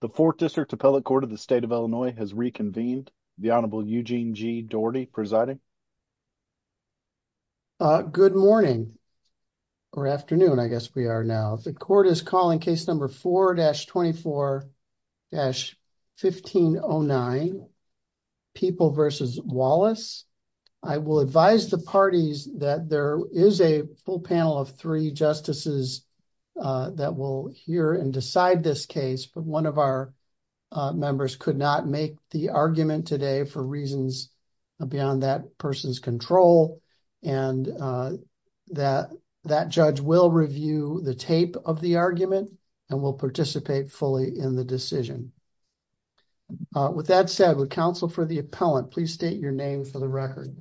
The Fourth District Appellate Court of the State of Illinois has reconvened. The Honorable Eugene G. Doherty presiding. Good morning, or afternoon I guess we are now. The court is calling case number 4-24-1509 People v. Wallace. I will advise the parties that there is a full panel of three justices that will hear and decide this case, but one of our members could not make the argument today for reasons beyond that person's control. And that judge will review the tape of the argument and will participate fully in the decision. With that said, would counsel for the appellant please state your name for the record?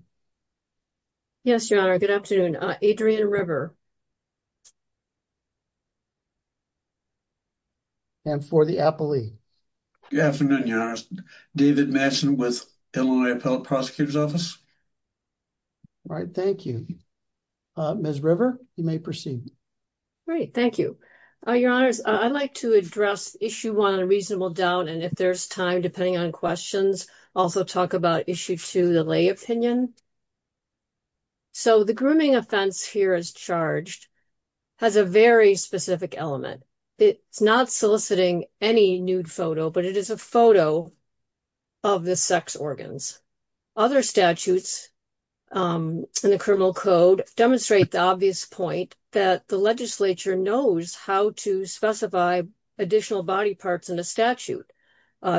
Yes, your honor. Good afternoon. Adrienne River. And for the appellee? Good afternoon, your honor. David Matson with Illinois Appellate Prosecutor's Office. All right, thank you. Ms. River, you may proceed. Great, thank you. Your honors, I'd like to address issue one on reasonable doubt, and if there's time, depending on questions, also talk about issue two, the lay opinion. So the grooming offense here as charged has a very specific element. It's not soliciting any nude photo, but it is a photo of the sex organs. Other statutes in the criminal code demonstrate the obvious point that the legislature knows how to specify additional body parts in a statute.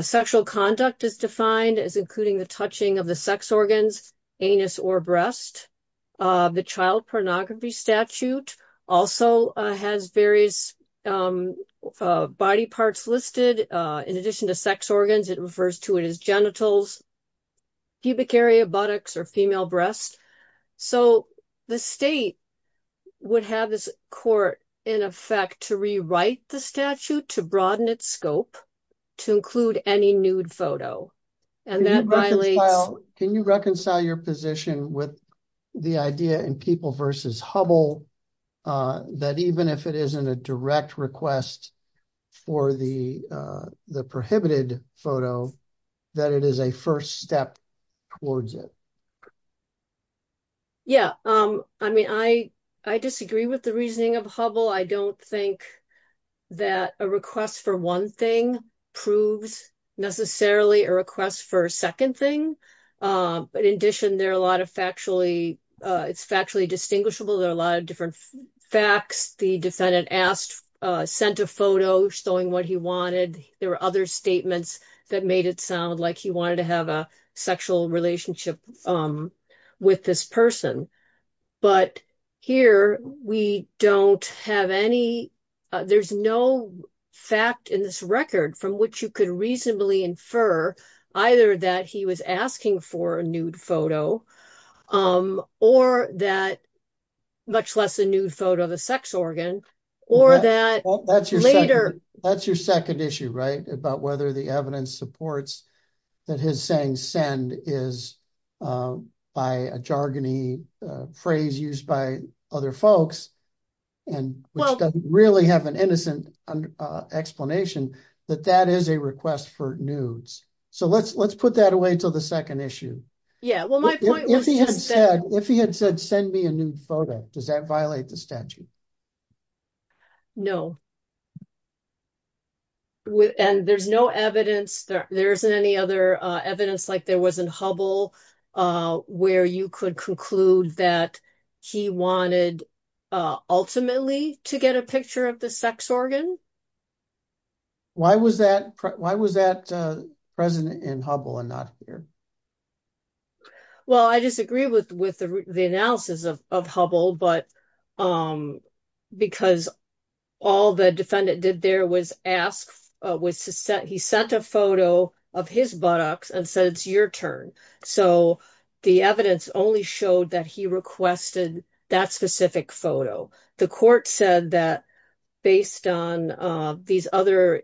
Sexual conduct is defined as including the touching of the sex organs, anus, or breast. The child pornography statute also has various body parts listed. In addition to sex organs, it refers to it as genitals, pubic area, buttocks, or female breast. So the state would have this court, in effect, to rewrite the statute to broaden its scope to include any nude photo, and that violates... Can you reconcile your position with the idea in People v. Hubbell that even if it isn't a direct request for the prohibited photo, that it is a first step towards it? Yeah, I mean, I disagree with the reasoning of Hubbell. I don't think that a request for one thing proves necessarily a request for a second thing. But in addition, there are a lot of factually... It's factually distinguishable. There are a lot of different facts. The defendant asked, sent a photo showing what he wanted. There were other statements that made it sound like he wanted to have a sexual relationship with this person. But here, we don't have any... There's no fact in this record from which you could reasonably infer either that he was asking for a nude photo, or that... Much less a nude photo of a sex organ, or that later... That's your second issue, right? About whether the evidence supports that his saying, send, is by a jargony phrase used by other folks, and which doesn't really have an innocent explanation, that that is a request for nudes. So let's put that away until the second issue. Yeah, well, my point was just that... If he had said, send me a nude photo, does that violate the statute? No. And there's no evidence... There isn't any other evidence like there was in Hubble, where you could conclude that he wanted ultimately to get a picture of the sex organ. Why was that present in Hubble and not here? Well, I disagree with the analysis of Hubble, but... Because all the defendant did there was ask... He sent a photo of his buttocks and said, it's your turn. So the evidence only showed that he requested that specific photo. The court said that based on these other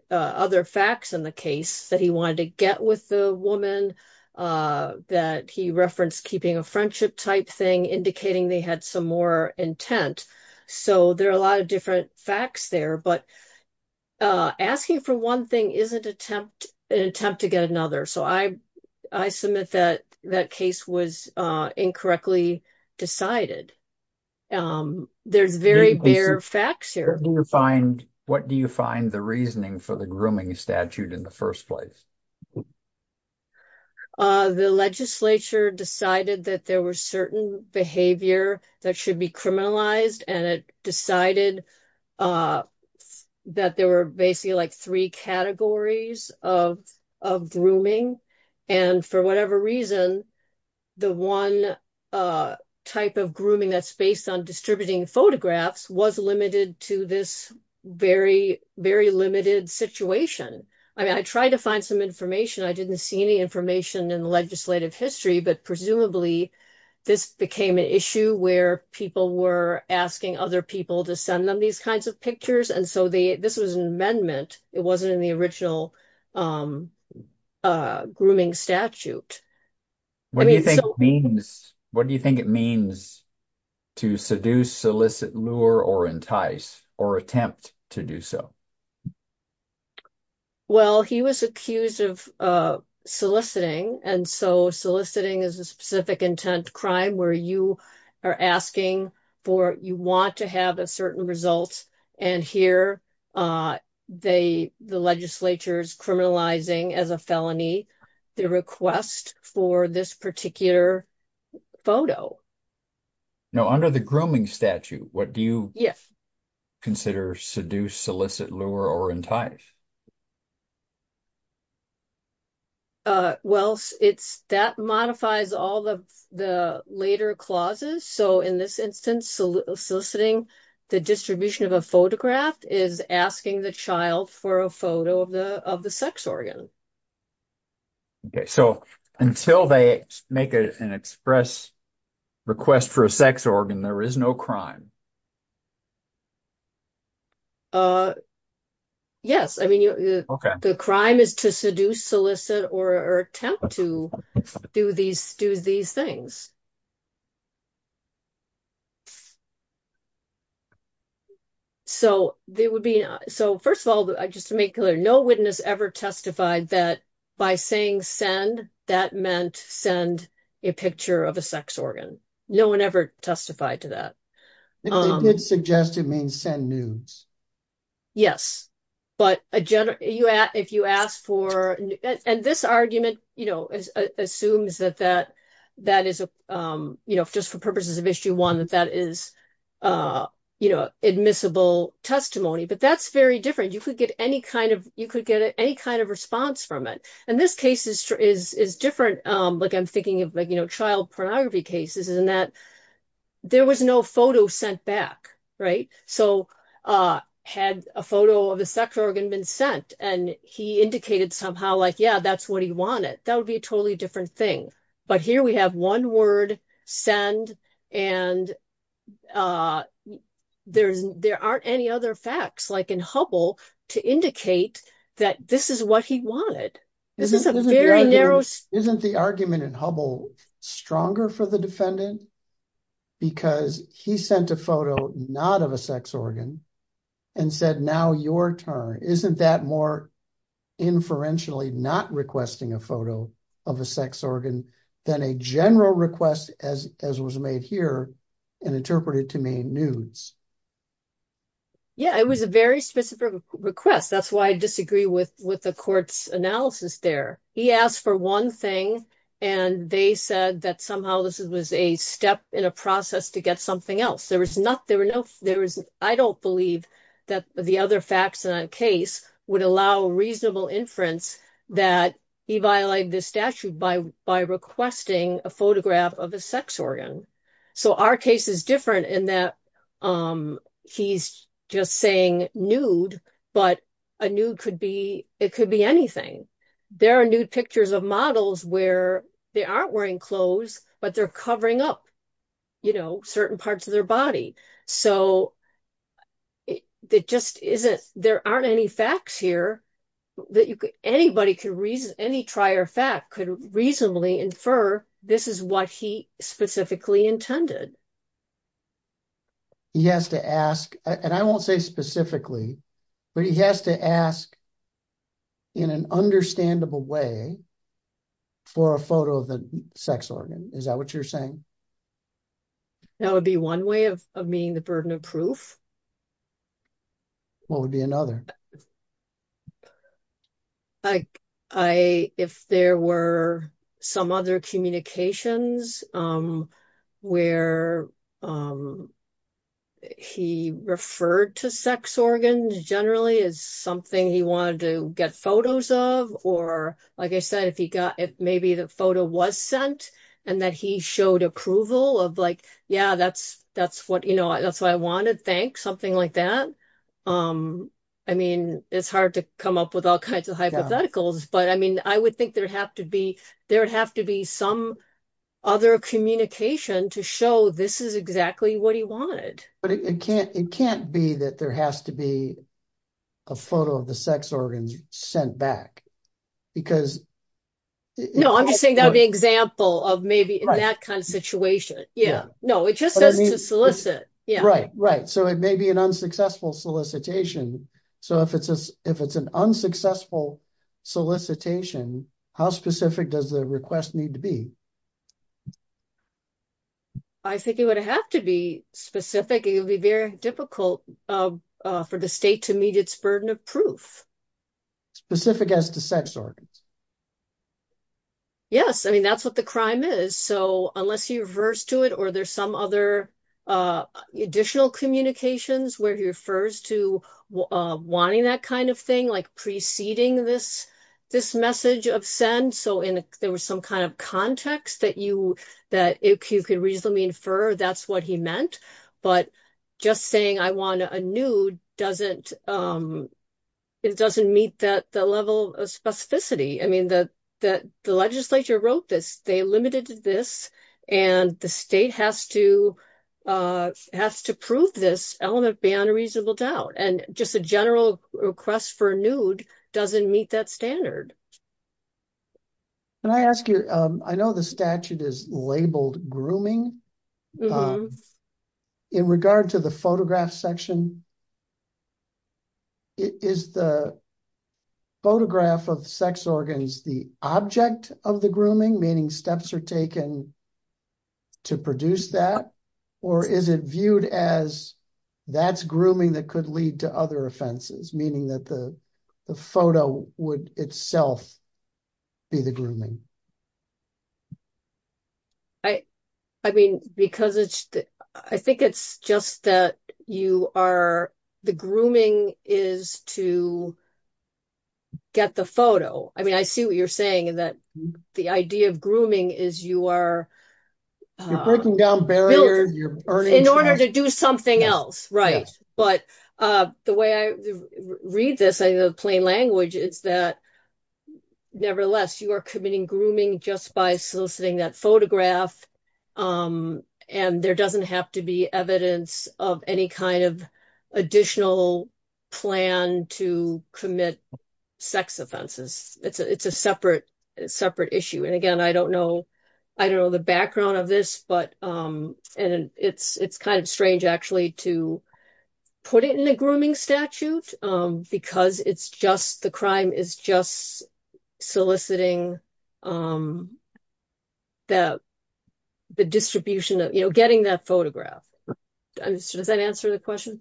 facts in the case, that he wanted to get with the woman, that he referenced keeping a friendship type thing, indicating they had some more intent. So there are a lot of different facts there, but asking for one thing isn't an attempt to get another. So I submit that that case was incorrectly decided. There's very bare facts here. What do you find the reasoning for the grooming statute in the first place? The legislature decided that there was certain behavior that should be criminalized, and it decided that there were basically like three categories of grooming. And for whatever reason, the one type of grooming that's based on distributing photographs was limited to this very, very limited situation. I mean, I tried to find some information. I didn't see any information in the legislative history, but presumably this became an issue where people were asking other people to send them these kinds of pictures. And so this was an amendment. It wasn't in the original grooming statute. What do you think it means to seduce, solicit, lure, or entice, or attempt to do so? Well, he was accused of soliciting, and so soliciting is a specific intent crime where you are asking for, you want to have a certain result, and here the legislature's criminalizing as a felony the request for this particular photo. Now, under the grooming statute, what do you consider seduce, solicit, lure, or entice? Well, that modifies all of the later clauses. So, in this instance, soliciting the distribution of a photograph is asking the child for a photo of the of the sex organ. Okay, so until they make an express request for a sex organ, there is no crime. Yes, I mean, okay, the crime is to seduce, solicit, or attempt to do these things. So, there would be, so first of all, just to make clear, no witness ever testified that by saying send, that meant send a picture of a sex organ. No one ever testified to that. They did suggest it means send nudes. Yes, but if you ask for, and this argument, you know, assumes that that is, you know, just for purposes of issue one, that that is, you know, admissible testimony, but that's very different. You could get any kind of, you could get any kind of response from it, and this case is different. Like, I'm thinking of, you know, child pornography cases, and that there was no photo sent back, right? So, had a photo of a sex organ been sent, and he indicated somehow, like, yeah, that's what he wanted, that would be a totally different thing. But here we have one word, send, and there aren't any other facts, like in Hubble, to indicate that this is what he wanted. This is a very narrow... Isn't the argument in Hubble stronger for the defendant, because he sent a photo not of a sex organ, and said, now your turn. Isn't that more inferentially not requesting a photo of a sex organ than a general request, as was made here, and interpreted to mean nudes? Yeah, it was a very specific request. That's why I disagree with the court's analysis there. He asked for one thing, and they said that somehow this was a step in a process to get something else. There was not, there were no, there was, I don't believe that the other facts in that case would allow reasonable inference that he violated this statute by requesting a photograph of a sex organ. So, our case is different, in that he's just saying nude, but a nude could be, it could be anything. There are nude pictures of models where they aren't wearing clothes, but they're covering up, you know, certain parts of their body. So, it just isn't, there aren't any facts here that you could, anybody could reason, any trier fact could reasonably infer this is what he specifically intended. He has to ask, and I won't say specifically, but he has to ask in an understandable way for a photo of the sex organ. Is that what you're saying? That would be one way of meeting the burden of proof. What would be another? I, if there were some other communications where he referred to sex organs generally as something he wanted to get photos of, or like I said, if he got, if maybe the photo was sent, and that he showed approval of like, yeah, that's what, you know, that's what I wanted, something like that. I mean, it's hard to come up with all kinds of hypotheticals, but I mean, I would think there'd have to be, there'd have to be some other communication to show this is exactly what he wanted. But it can't, it can't be that there has to be a photo of the sex organs sent back, because... No, I'm just saying that would be an example of maybe in that kind of it may be an unsuccessful solicitation. So if it's an unsuccessful solicitation, how specific does the request need to be? I think it would have to be specific. It would be very difficult for the state to meet its burden of proof. Specific as to sex organs? Yes. I mean, that's what the crime is. So unless you reverse to it, or there's some other additional communications where he refers to wanting that kind of thing, like preceding this message of send, so there was some kind of context that you could reasonably infer that's what he meant. But just saying I want a nude doesn't, it doesn't meet that level of specificity. I mean, the legislature wrote this, they limited this, and the state has to prove this element beyond a reasonable doubt. And just a general request for a nude doesn't meet that standard. Can I ask you, I know the statute is labeled grooming. In regard to the photograph section, is the photograph of sex organs the object of the grooming, meaning steps are taken to produce that? Or is it viewed as that's grooming that could lead to other offenses, meaning that the photo would itself be the grooming? I mean, because it's, I think it's just that you are, the grooming is to get the photo. I mean, I see what you're saying that the idea of grooming is you are breaking down barriers in order to do something else. Right. But the way I read this, the plain language is that, nevertheless, you are committing grooming just by soliciting that photograph. And there doesn't have to be evidence of any kind of additional plan to commit sex offenses. It's a separate issue. And again, I don't know the background of this, but it's kind of strange actually to put it in a grooming statute because it's just the crime is just soliciting the distribution of, you know, getting that photograph. Does that answer the question?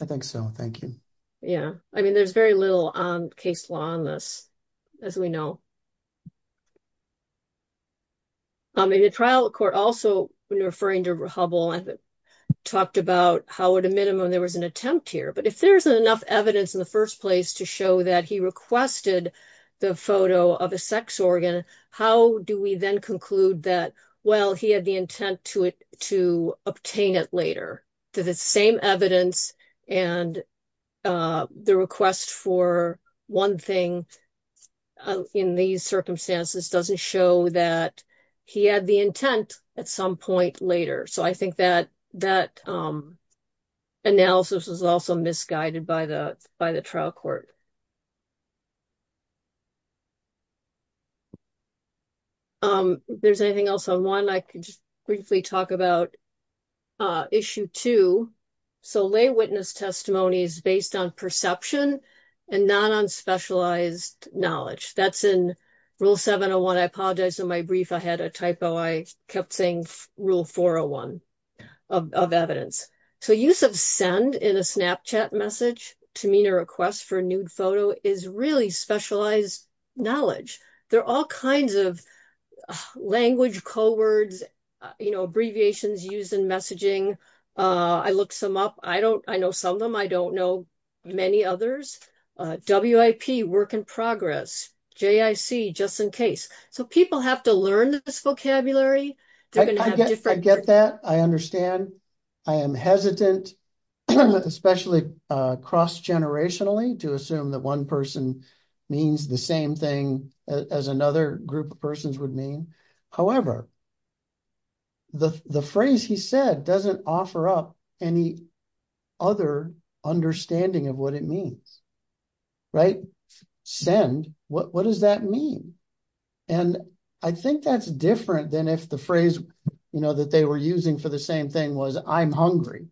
I think so. Thank you. Yeah. I mean, there's very little on case law on this, as we know. I mean, the trial court also, when referring to Hubble, talked about how, at a minimum, there was an attempt here. But if there's enough evidence in the first place to show that he requested the photo of a sex organ, how do we then conclude that, well, he had the intent to obtain it later? The same evidence and the request for one thing in these circumstances doesn't show that he had the intent at some point later. So I think that analysis was also misguided by the trial court. There's anything else on one? I can just briefly talk about issue two. So lay witness testimony is based on perception and not on specialized knowledge. That's in rule 701. I apologize for my brief. I had a typo. I kept saying rule 401 of evidence. So use of send in Snapchat message to mean a request for a nude photo is really specialized knowledge. There are all kinds of language, code words, abbreviations used in messaging. I looked some up. I know some of them. I don't know many others. WIP, work in progress. JIC, just in case. So people have to learn this vocabulary. I get that. I understand. I am hesitant, especially cross-generationally to assume that one person means the same thing as another group of persons would mean. However, the phrase he said doesn't offer up any other understanding of what it means. Right? Send? What does that mean? And I think that's different than if the phrase that they were using for the same thing was I'm hungry.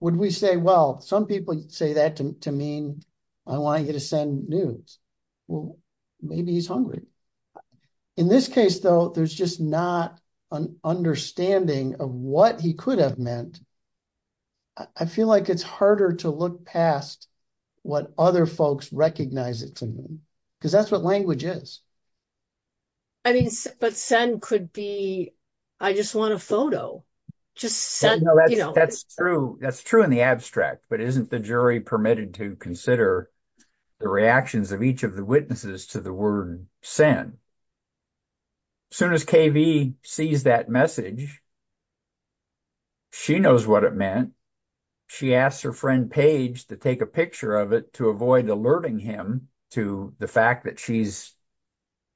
Would we say, well, some people say that to mean I want you to send nudes. Well, maybe he's hungry. In this case, though, there's just not an understanding of what he could have meant. I feel like it's harder to look past what other folks recognize it to mean because that's what language is. I mean, but send could be I just want a photo. Just send. That's true. That's true in the abstract. But isn't the jury permitted to consider the reactions of each of the witnesses to the word send? Soon as K.V. sees that message, she knows what it meant. She asks her friend, Page, to take a picture of it to avoid alerting him to the fact that she's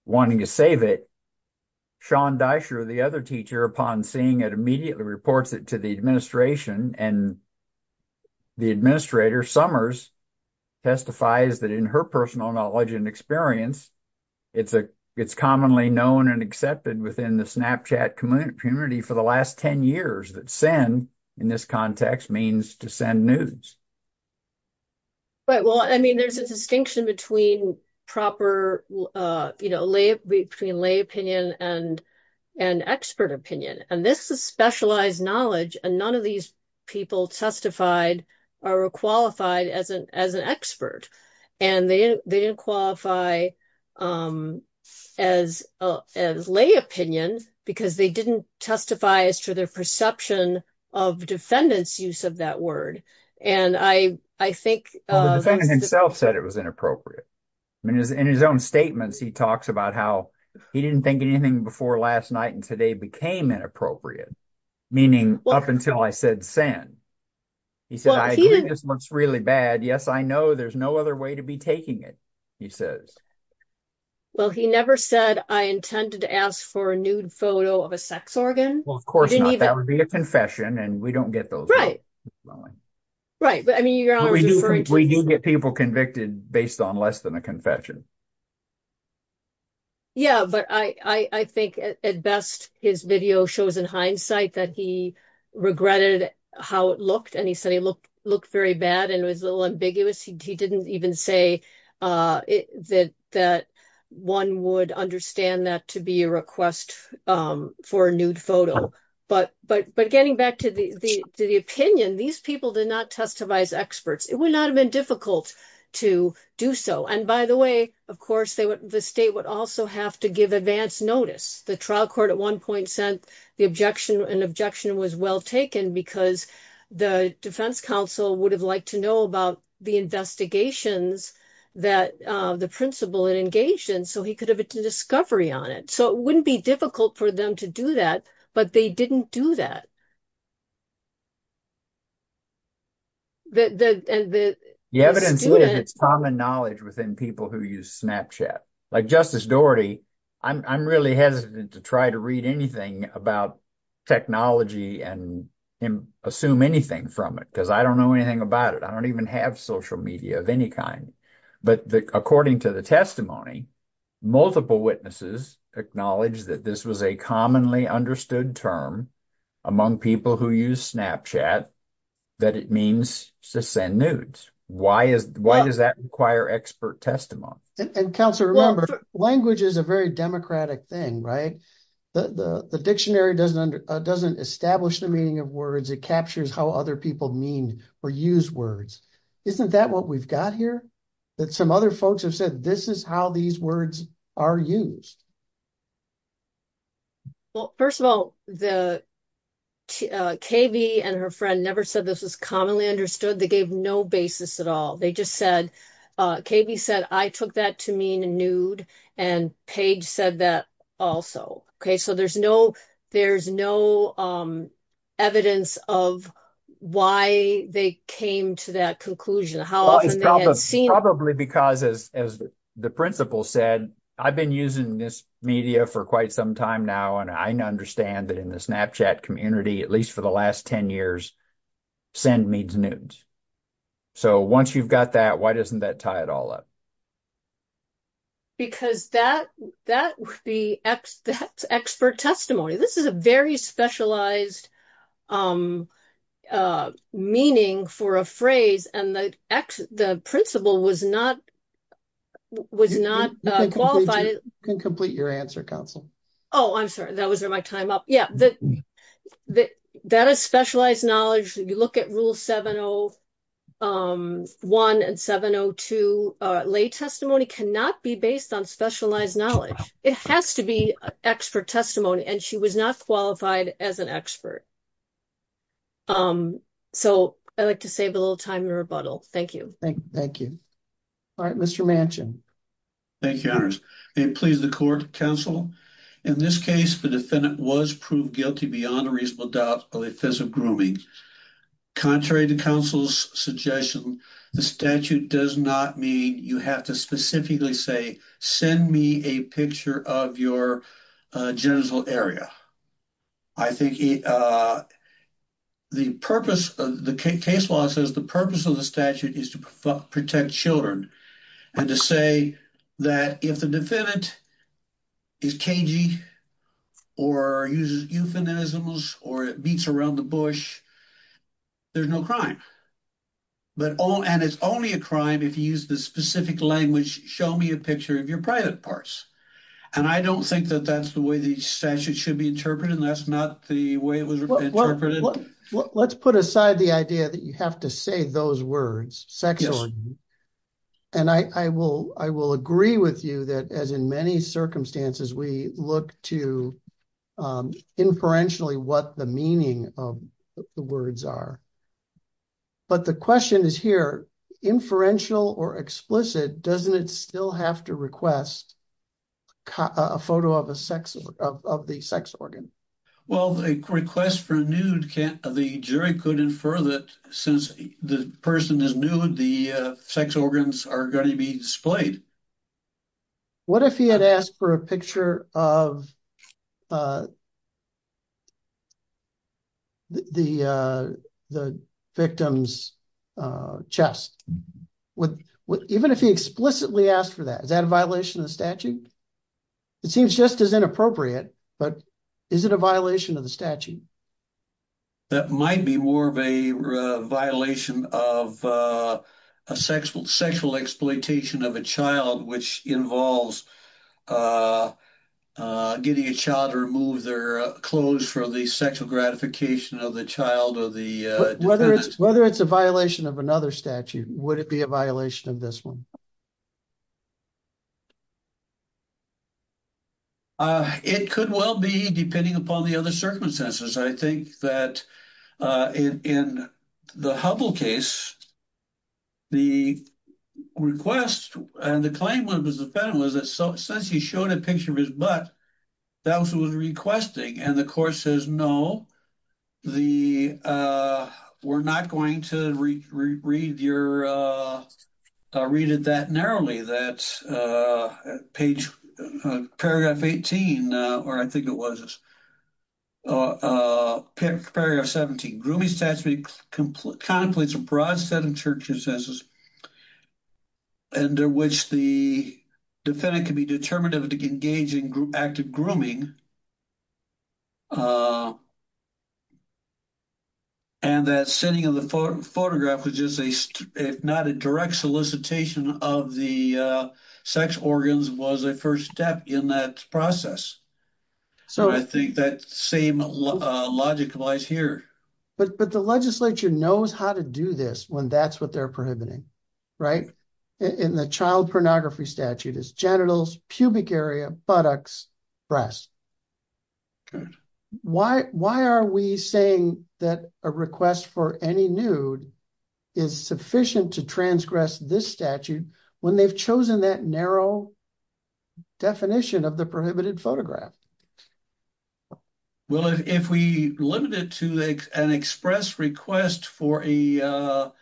wanting to save it. Sean Dysher, the other teacher, upon seeing it, reports it to the administration. And the administrator, Summers, testifies that in her personal knowledge and experience, it's commonly known and accepted within the Snapchat community for the last 10 years that send in this context means to send nudes. Right. Well, I mean, there's a distinction between proper, you know, between lay opinion and expert opinion. And this is specialized knowledge. And none of these people testified or qualified as an expert. And they didn't qualify as lay opinion because they didn't testify as to their perception of defendant's use of that word. And I think the defendant himself said it was inappropriate. I mean, in his own statements, he talks about how he didn't think anything before last night and today became inappropriate, meaning up until I said sin. He said, I agree this looks really bad. Yes, I know. There's no other way to be taking it, he says. Well, he never said I intended to ask for a nude photo of a sex organ. Well, of course, that would be a confession. And we don't get those. Right. Right. But I mean, we do get people convicted based on less than a confession. Yeah, but I think, at best, his video shows in hindsight that he regretted how it looked. And he said he looked very bad and was a little ambiguous. He didn't even say that one would understand that to be a request for a nude photo. But getting back to the opinion, these people did not testify as experts. It would not have been difficult to do so. And by the way, of course, the state would also have to give advance notice. The trial court at one point said an objection was well taken because the defense counsel would have liked to know about the investigations that the principal had engaged in so he could have a discovery on it. So it wouldn't be difficult for them to do that. But they didn't do that. The evidence is common knowledge within people who use Snapchat, like Justice Doherty. I'm really hesitant to try to read anything about technology and assume anything from it because I don't know anything about it. I don't even have social media of any kind. But according to the testimony, multiple witnesses acknowledged that this was a commonly understood term among people who use Snapchat that it means to send nudes. Why does that require expert testimony? And Counselor, remember, language is a very democratic thing, right? The dictionary doesn't establish the meaning of words. It captures how other people mean or use words. Isn't that what we've got here? That some other folks have said this is how these words are used. Well, first of all, the KV and her friend never said this was commonly understood. They gave no basis at all. They just said, KV said, I took that to mean nude and Paige said that also. Okay, there's no evidence of why they came to that conclusion. Probably because, as the principal said, I've been using this media for quite some time now and I understand that in the Snapchat community, at least for the last 10 years, send means nudes. So once you've got that, why doesn't that tie it all up? Because that would be the expert testimony. This is a very specialized meaning for a phrase and the principal was not qualified. You can complete your answer, Counselor. Oh, I'm sorry. That was my time up. Yeah, that is specialized knowledge. You look at Rule 701 and 702. Lay testimony cannot be based on specialized knowledge. It has to be expert testimony and she was not qualified as an expert. So I like to save a little time to rebuttal. Thank you. Thank you. All right, Mr. Manchin. Thank you, Honors. May it please the Court, Counsel. In this case, the defendant was proved guilty beyond a doubt of offensive grooming. Contrary to counsel's suggestion, the statute does not mean you have to specifically say, send me a picture of your genital area. I think the purpose of the case law says the purpose of the statute is to protect children and to say that if the defendant is cagey or uses euphemisms or beats around the bush, there's no crime. And it's only a crime if you use the specific language, show me a picture of your private parts. And I don't think that that's the way the statute should be interpreted and that's not the way it was interpreted. Let's put aside the idea that you have to say those words sexually. And I will agree with you that as in many circumstances, we look to inferentially what the meaning of the words are. But the question is here, inferential or explicit, doesn't it still have to request a photo of the sex organ? Well, the request for a nude, the jury could infer that since the person is nude, the sex organs are going to be displayed. What if he had asked for a picture of the victim's chest? Even if he explicitly asked for that, is that a violation of the statute? It seems just as inappropriate, but is it a violation of the statute? That might be more of a violation of a sexual exploitation of a child, which involves getting a child to remove their clothes for the sexual gratification of the child or the... Whether it's a violation of another statute, would it be a violation of this one? It could well be, depending upon the other circumstances. I think that in the Hubbell case, the request and the claim of the defendant was that since he showed a picture of his butt, that was what he was requesting. And the court says, no, we're not going to read that narrowly, that paragraph 17, grooming statute contemplates a broad set of circumstances under which the defendant can be determined to engage in active grooming. And that sitting in the photograph was just, if not a direct solicitation of the sex organs, was a first step in that process. So I think that same logic lies here. But the legislature knows how to do this when that's what they're prohibiting. Right? In the child pornography statute is genitals, pubic area, buttocks, breast. Why are we saying that a request for any nude is sufficient to transgress this statute when they've chosen that narrow definition of the prohibited photograph? Well, if we limit it to an express request for a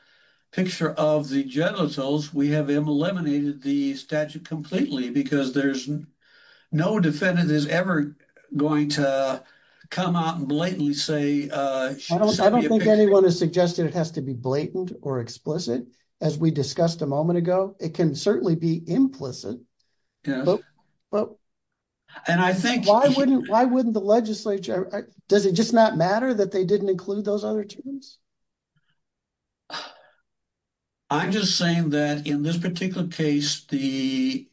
picture of the genitals, we have eliminated the statute completely because there's no defendant is ever going to come out and blatantly say. I don't think anyone has suggested it has to be blatant or explicit. As we discussed a moment ago, it can certainly be implicit. Yeah. And I think. Why wouldn't the legislature? Does it just not matter that they didn't include those other terms? I'm just saying that in this particular case, the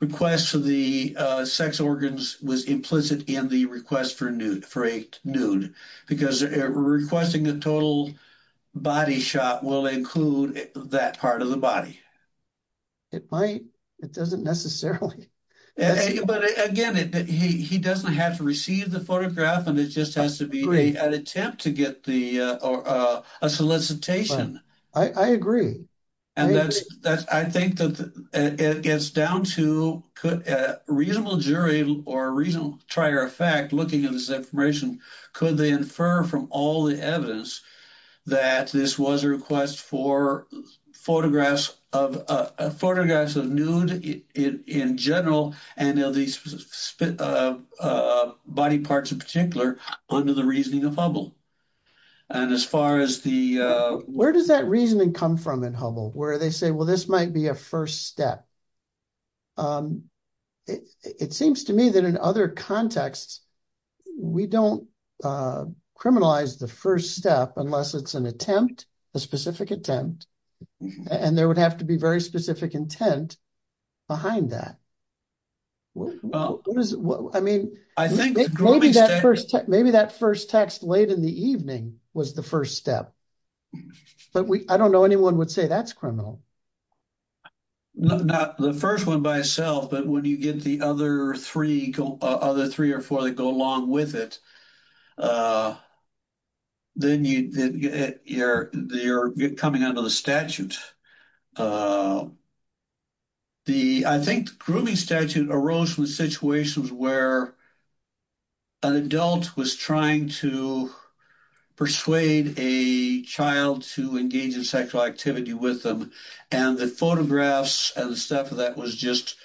request for the sex organs was implicit in the request for a nude because requesting a total body shot will include that part of the body. It might. It doesn't necessarily. But again, he doesn't have to receive the photograph and it just has to be an attempt to get a solicitation. I agree. And that's I think that it gets down to could a reasonable jury or a reasonable trier of fact looking at this information, could they infer from all the evidence that this was a request for photographs of photographs of nude in general and these body parts in particular under the reasoning of Hubble? And as far as the. Where does that reasoning come from in Hubble, where they say, well, this might be a first step? Um, it seems to me that in other contexts, we don't criminalize the first step unless it's an attempt, a specific attempt, and there would have to be very specific intent behind that. I mean, I think maybe that first maybe that first text late in the evening was the first step, but I don't know anyone would say that's criminal. The first one by itself, but when you get the other three, other three or four that go along with it, then you're coming under the statute. The I think grooming statute arose from situations where. An adult was trying to persuade a child to engage in sexual activity with them, and the photographs and stuff that was just.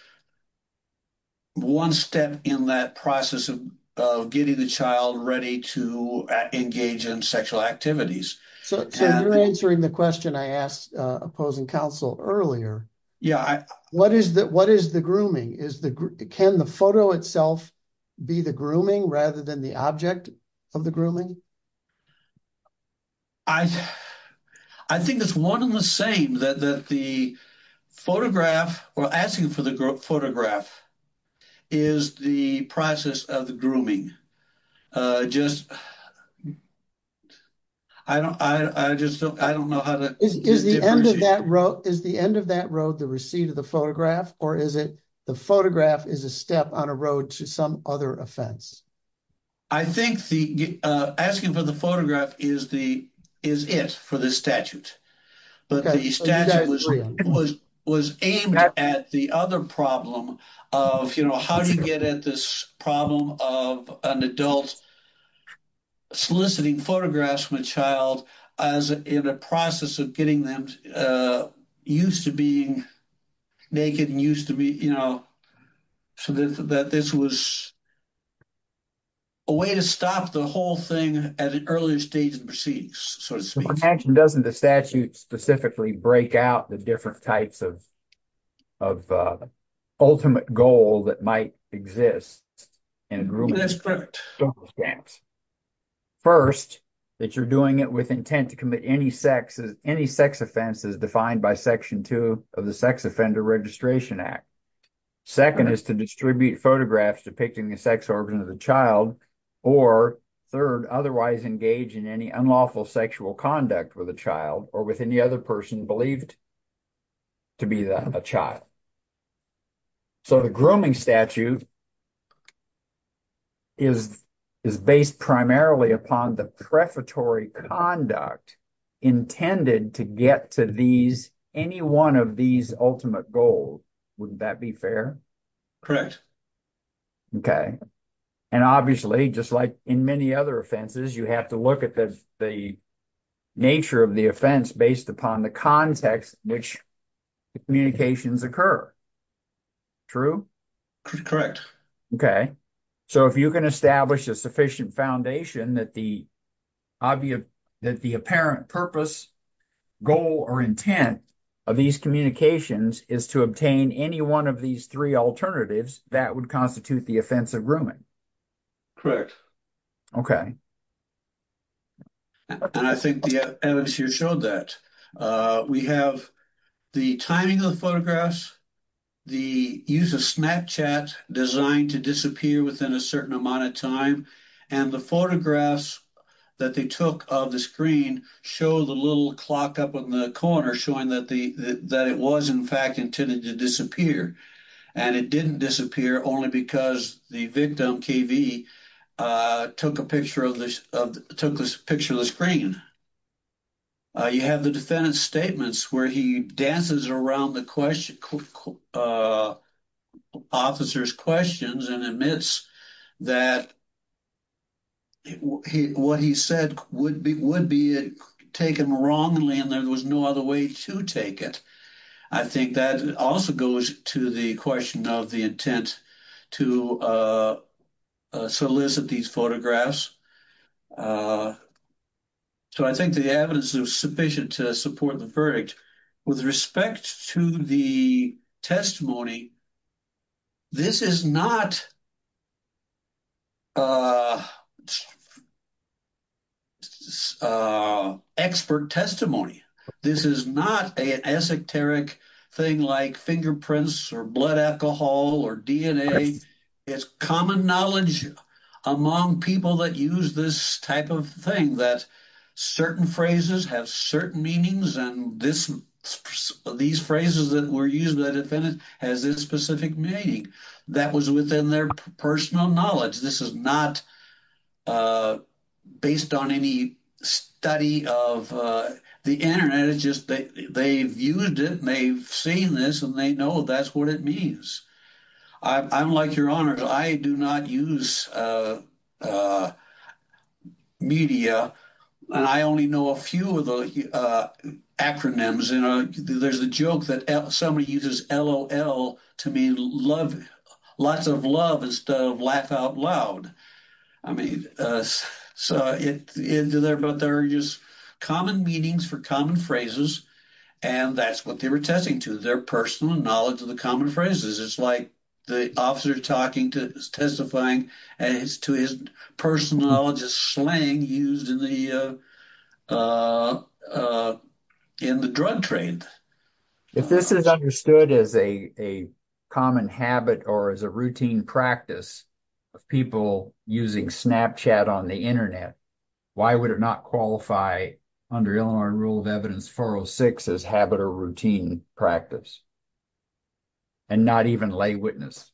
One step in that process of getting the child ready to engage in sexual activities. So you're answering the question I asked opposing counsel earlier. Yeah, what is that? What is the grooming is the can the photo itself? Be the grooming rather than the object of the grooming. I, I think it's 1 in the same that the photograph or asking for the photograph. Is the process of the grooming just. I don't I just don't I don't know how to is the end of that road is the end of that road. The receipt of the photograph, or is it the photograph is a step on a road to some other offense? I think the asking for the photograph is the is it for the statute. But the statute was was was aimed at the other problem of how to get at this problem of an adult. Soliciting photographs from a child as in a process of getting them used to being. Naked and used to be, you know, so that this was. A way to stop the whole thing at an earlier stage of the proceedings, so it's doesn't the statute specifically break out the different types of. Of ultimate goal that might exist. And that's correct. 1st, that you're doing it with intent to commit any sex as any sex offenses defined by section 2 of the Sex Offender Registration Act. 2nd is to distribute photographs depicting the sex origin of the child or 3rd otherwise engage in any unlawful sexual conduct with a child or with any other person believed. To be the child. So the grooming statute. Is is based primarily upon the prefatory conduct intended to get to these any 1 of these ultimate goals? Wouldn't that be fair? OK, and obviously, just like in many other offenses, you have to look at this. The nature of the offense based upon the context in which. Communications occur. True, correct? OK, so if you can establish a sufficient foundation that the. Obvious that the apparent purpose. Goal or intent of these communications is to obtain any 1 of these 3 alternatives that would constitute the offensive grooming. Correct. OK. And I think the evidence here showed that we have the timing of photographs. The use of Snapchat designed to disappear within a certain amount of time and the photographs. That they took of the screen show the little clock up in the corner showing that the that it was in fact intended to disappear and it didn't disappear only because the victim KV. Took a picture of this took this picture of the screen. You have the defendant statements where he dances around the question. Officers questions and admits that. He what he said would be would be taken wrongly, and there was no other way to take it. I think that also goes to the question of the intent to. Solicit these photographs. So I think the evidence is sufficient to support the verdict with respect to the testimony. This is not. Expert testimony, this is not a esoteric thing like fingerprints or blood alcohol or DNA. It's common knowledge among people that use this type of thing that certain phrases have certain meanings and this these phrases that were used by the defendant has this specific meaning that was within their personal knowledge. This is not. Based on any study of the Internet, it's just that they viewed it and they've seen this and they know that's what it means. I'm like your honor, I do not use. Media and I only know a few of the. There's a joke that somebody uses LOL to mean love. Lots of love and stuff. Laugh out loud. I mean, so it is there, but there are just common meanings for common phrases. And that's what they were testing to their personal knowledge of the common phrases. It's like the officer talking to testifying as to his personal knowledge of slang used in the. Uh, uh, in the drug trade. If this is understood as a a common habit or as a routine practice of people using Snapchat on the Internet, why would it not qualify under Illinois rule of evidence? 406 is habit or routine practice. And not even lay witness.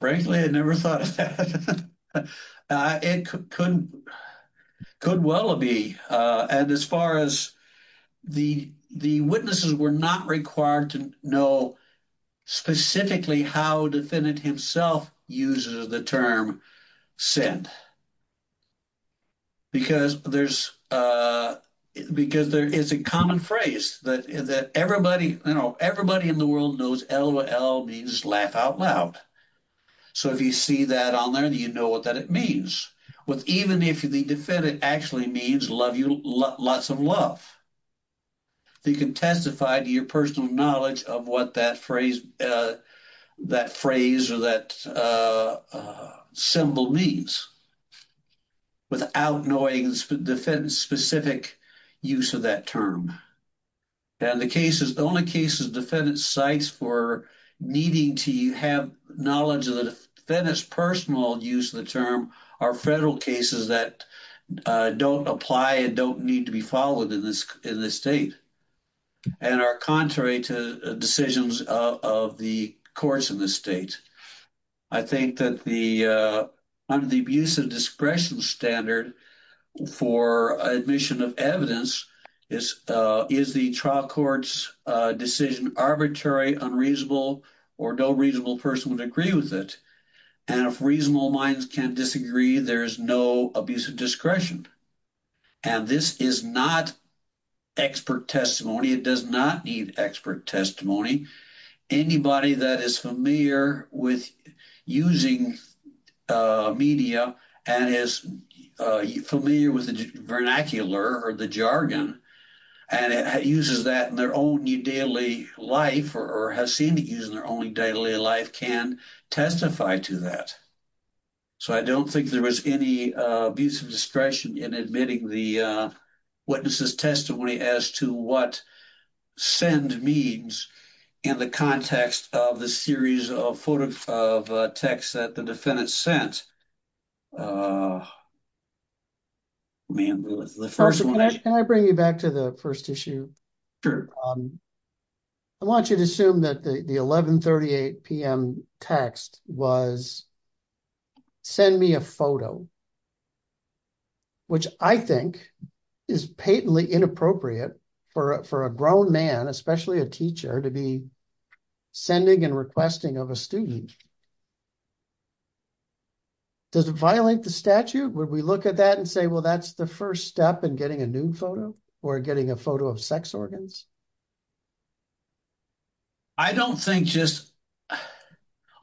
Frankly, I never thought of that. Uh, it could could well be, uh, and as far as. The the witnesses were not required to know. Specifically how defendant himself uses the term. Send. Because there's, uh, because there is a common phrase that is that everybody, you know, everybody in the world knows LOL means laugh out loud. So if you see that on there, you know what that it means. With even if the defendant actually means love you lots of love. They can testify to your personal knowledge of what that phrase, uh. That phrase or that, uh, uh, symbol means. Without knowing the defense specific use of that term. And the case is the only cases defendant sites for. Needing to have knowledge of the defendants personal use of the term are federal cases that. Don't apply and don't need to be followed in this in this state. And are contrary to decisions of the courts in this state. I think that the, uh, under the abuse of discretion standard. For admission of evidence is, uh, is the trial courts decision arbitrary, unreasonable. Or no reasonable person would agree with it. And if reasonable minds can disagree, there is no abuse of discretion. And this is not. Expert testimony. It does not need expert testimony. Anybody that is familiar with using. Uh, media and is familiar with the vernacular or the jargon. And it uses that in their own daily life, or has seemed to use their only daily life can. Testify to that. So, I don't think there was any abuse of discretion in admitting the. Witnesses testimony as to what. Send means in the context of the series of photo of text that the defendant sent. And the 1st, can I bring you back to the 1st issue? I want you to assume that the 1138 PM text was. Send me a photo. Which I think is patently inappropriate for for a grown man, especially a teacher to be. Sending and requesting of a student. Does it violate the statute? Would we look at that and say, well, that's the 1st step and getting a new photo or getting a photo of sex organs. I don't think just.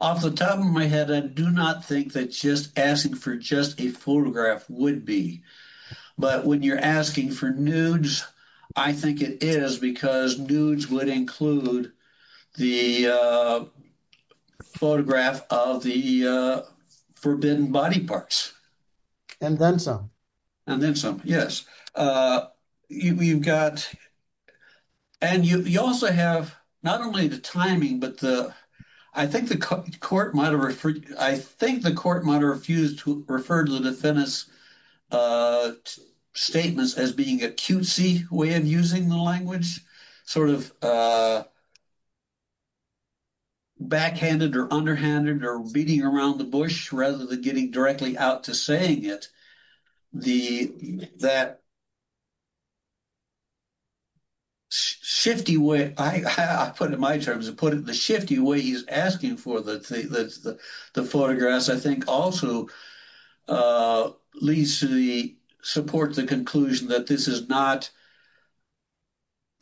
Off the top of my head, I do not think that just asking for just a photograph would be. But when you're asking for nudes, I think it is because nudes would include the. Photograph of the forbidden body parts. And then some. And then some, yes, you've got. And you also have not only the timing, but the I think the court might have referred. I think the court might have refused to refer to the defendants. Statements as being a cutesy way of using the language sort of. Backhanded or underhanded or beating around the bush rather than getting directly out to saying it. The that. Shifty way, I put it in my terms and put it in the shifty way he's asking for that. The photographs, I think also. Leads to the support, the conclusion that this is not.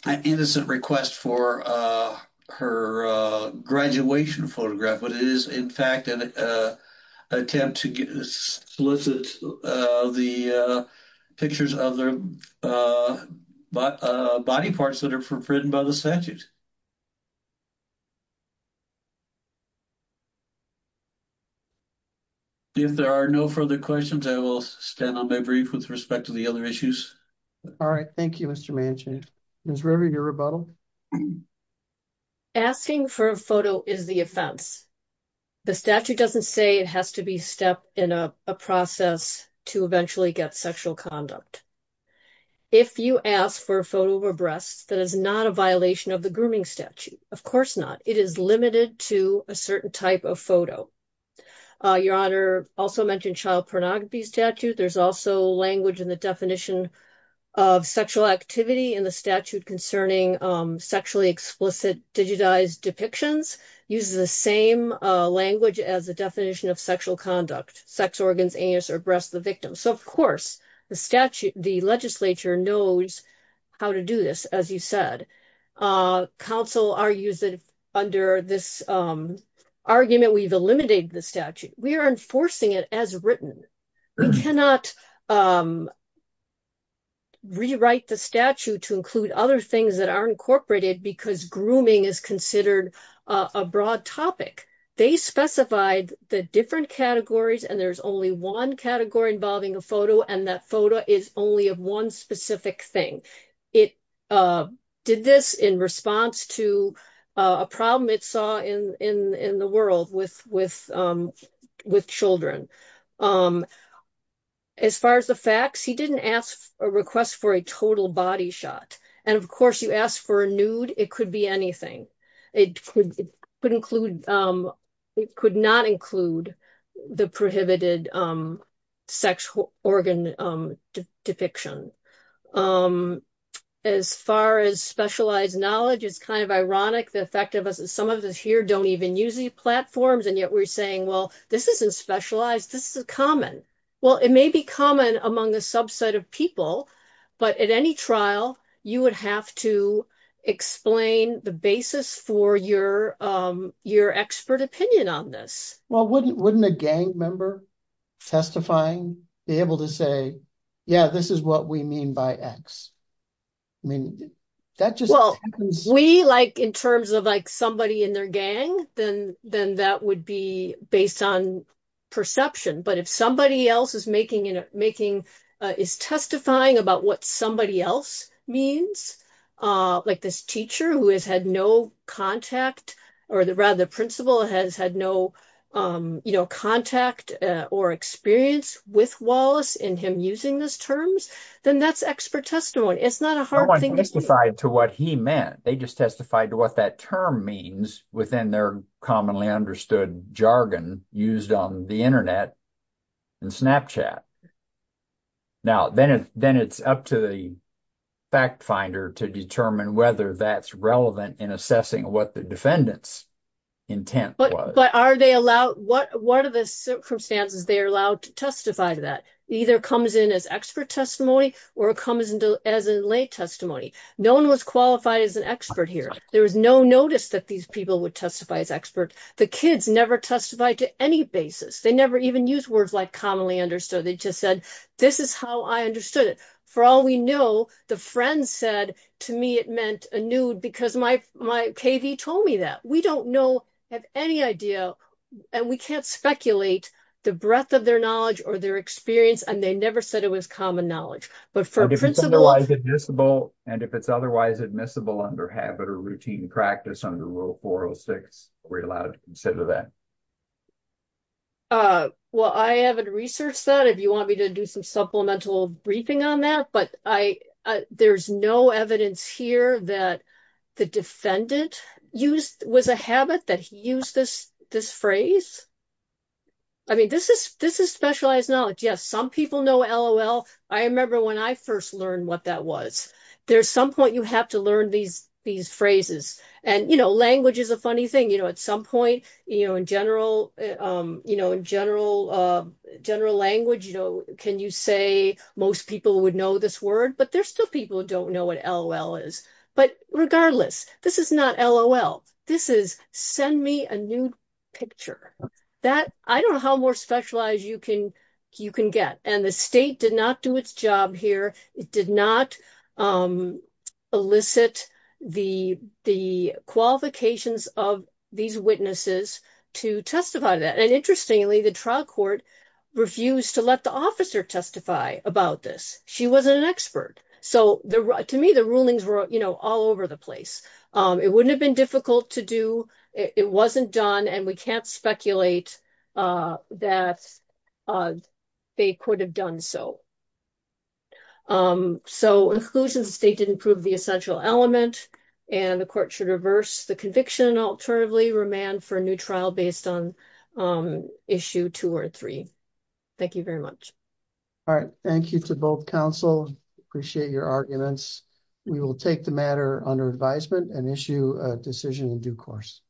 An innocent request for her graduation photograph, but it is, in fact, an attempt to solicit. The pictures of their body parts that are forbidden by the statute. If there are no further questions, I will stand on my brief with respect to the other issues. All right, thank you. Mr. Manchin is really your rebuttal. Asking for a photo is the offense. The statute doesn't say it has to be step in a process to eventually get sexual conduct. If you ask for a photo of a breast, that is not a violation of the grooming statute. Of course not. It is limited to a certain type of photo. Your honor also mentioned child pornography statute. There's also language in the definition of sexual activity in the statute concerning sexually explicit digitized depictions uses the same language as the definition of sexual conduct, sex organs, anus, or breast of the victim. Of course, the legislature knows how to do this, as you said. Council argues that under this argument, we've eliminated the statute. We are enforcing it as written. We cannot rewrite the statute to include other things that are incorporated because grooming is considered a broad topic. They specified the different categories, and there's only one category involving a photo, and that photo is only of one specific thing. It did this in response to a problem it saw in the world with children. As far as the facts, he didn't ask for a request for a total body shot. Of course, you ask for a nude. It could be anything. It could not include the prohibited sex organ depiction. As far as specialized knowledge, it's kind of ironic. Some of us here don't even use these platforms, and yet we're saying, well, this isn't specialized. This is common. It may be common among a subset of people, but at any trial, you would have to explain the basis for your expert opinion on this. Well, wouldn't a gang member testifying be able to say, yeah, this is what we mean by X? We, in terms of somebody in their gang, then that would be based on perception, but if somebody else is testifying about what somebody else means, like this teacher who has had no contact, or rather the principal has had no contact or experience with Wallace in him using those terms, then that's expert testimony. It's not a hard thing to do. No one testified to what he meant. They just testified to what that term means within their commonly understood jargon used on the internet and Snapchat. Now, then it's up to the fact finder to determine whether that's relevant in assessing what the defendant's intent was. But are they allowed, what are the circumstances they're allowed to testify to that? Either comes in as expert testimony, or it comes in as a lay testimony. No one was qualified as an expert here. There was no notice that these people would testify as experts. The kids never testified to any basis. They never even used words like commonly understood. They just said, this is how I understood it. For all we know, the friend said, to me, it meant a nude, because my KV told me that. We don't know, have any idea, and we can't speculate, the breadth of their knowledge or their experience, and they never said it was common knowledge. If it's otherwise admissible, and if it's otherwise admissible under habit or routine practice under Rule 406, we're allowed to consider that. Well, I haven't researched that. If you want me to do some supplemental briefing on that, but there's no evidence here that the defendant was a habit that he used this phrase. I mean, this is specialized knowledge. Yes, some people know LOL. I remember when I first learned what that was. There's some point you have to learn these phrases. Language is a funny thing. At some point, in general language, can you say most people would know this word, but there's still people who don't know what LOL is. But regardless, this is not LOL. This is send me a nude picture. I don't know how more specialized you can get, and the state did not do its job here. It did not elicit the qualifications of these witnesses to testify to that, and interestingly, the trial court refused to let the officer testify about this. She wasn't an expert, so to me, the rulings were all over the place. It wouldn't have been difficult to do. It wasn't done, and we can't speculate that they could have done so. So, in conclusion, the state didn't prove the essential element, and the court should reverse the conviction and alternatively remand for a new trial based on issue two or three. Thank you very much. All right. Thank you to both counsel. Appreciate your arguments. We will take the matter under advisement and issue a decision in due course.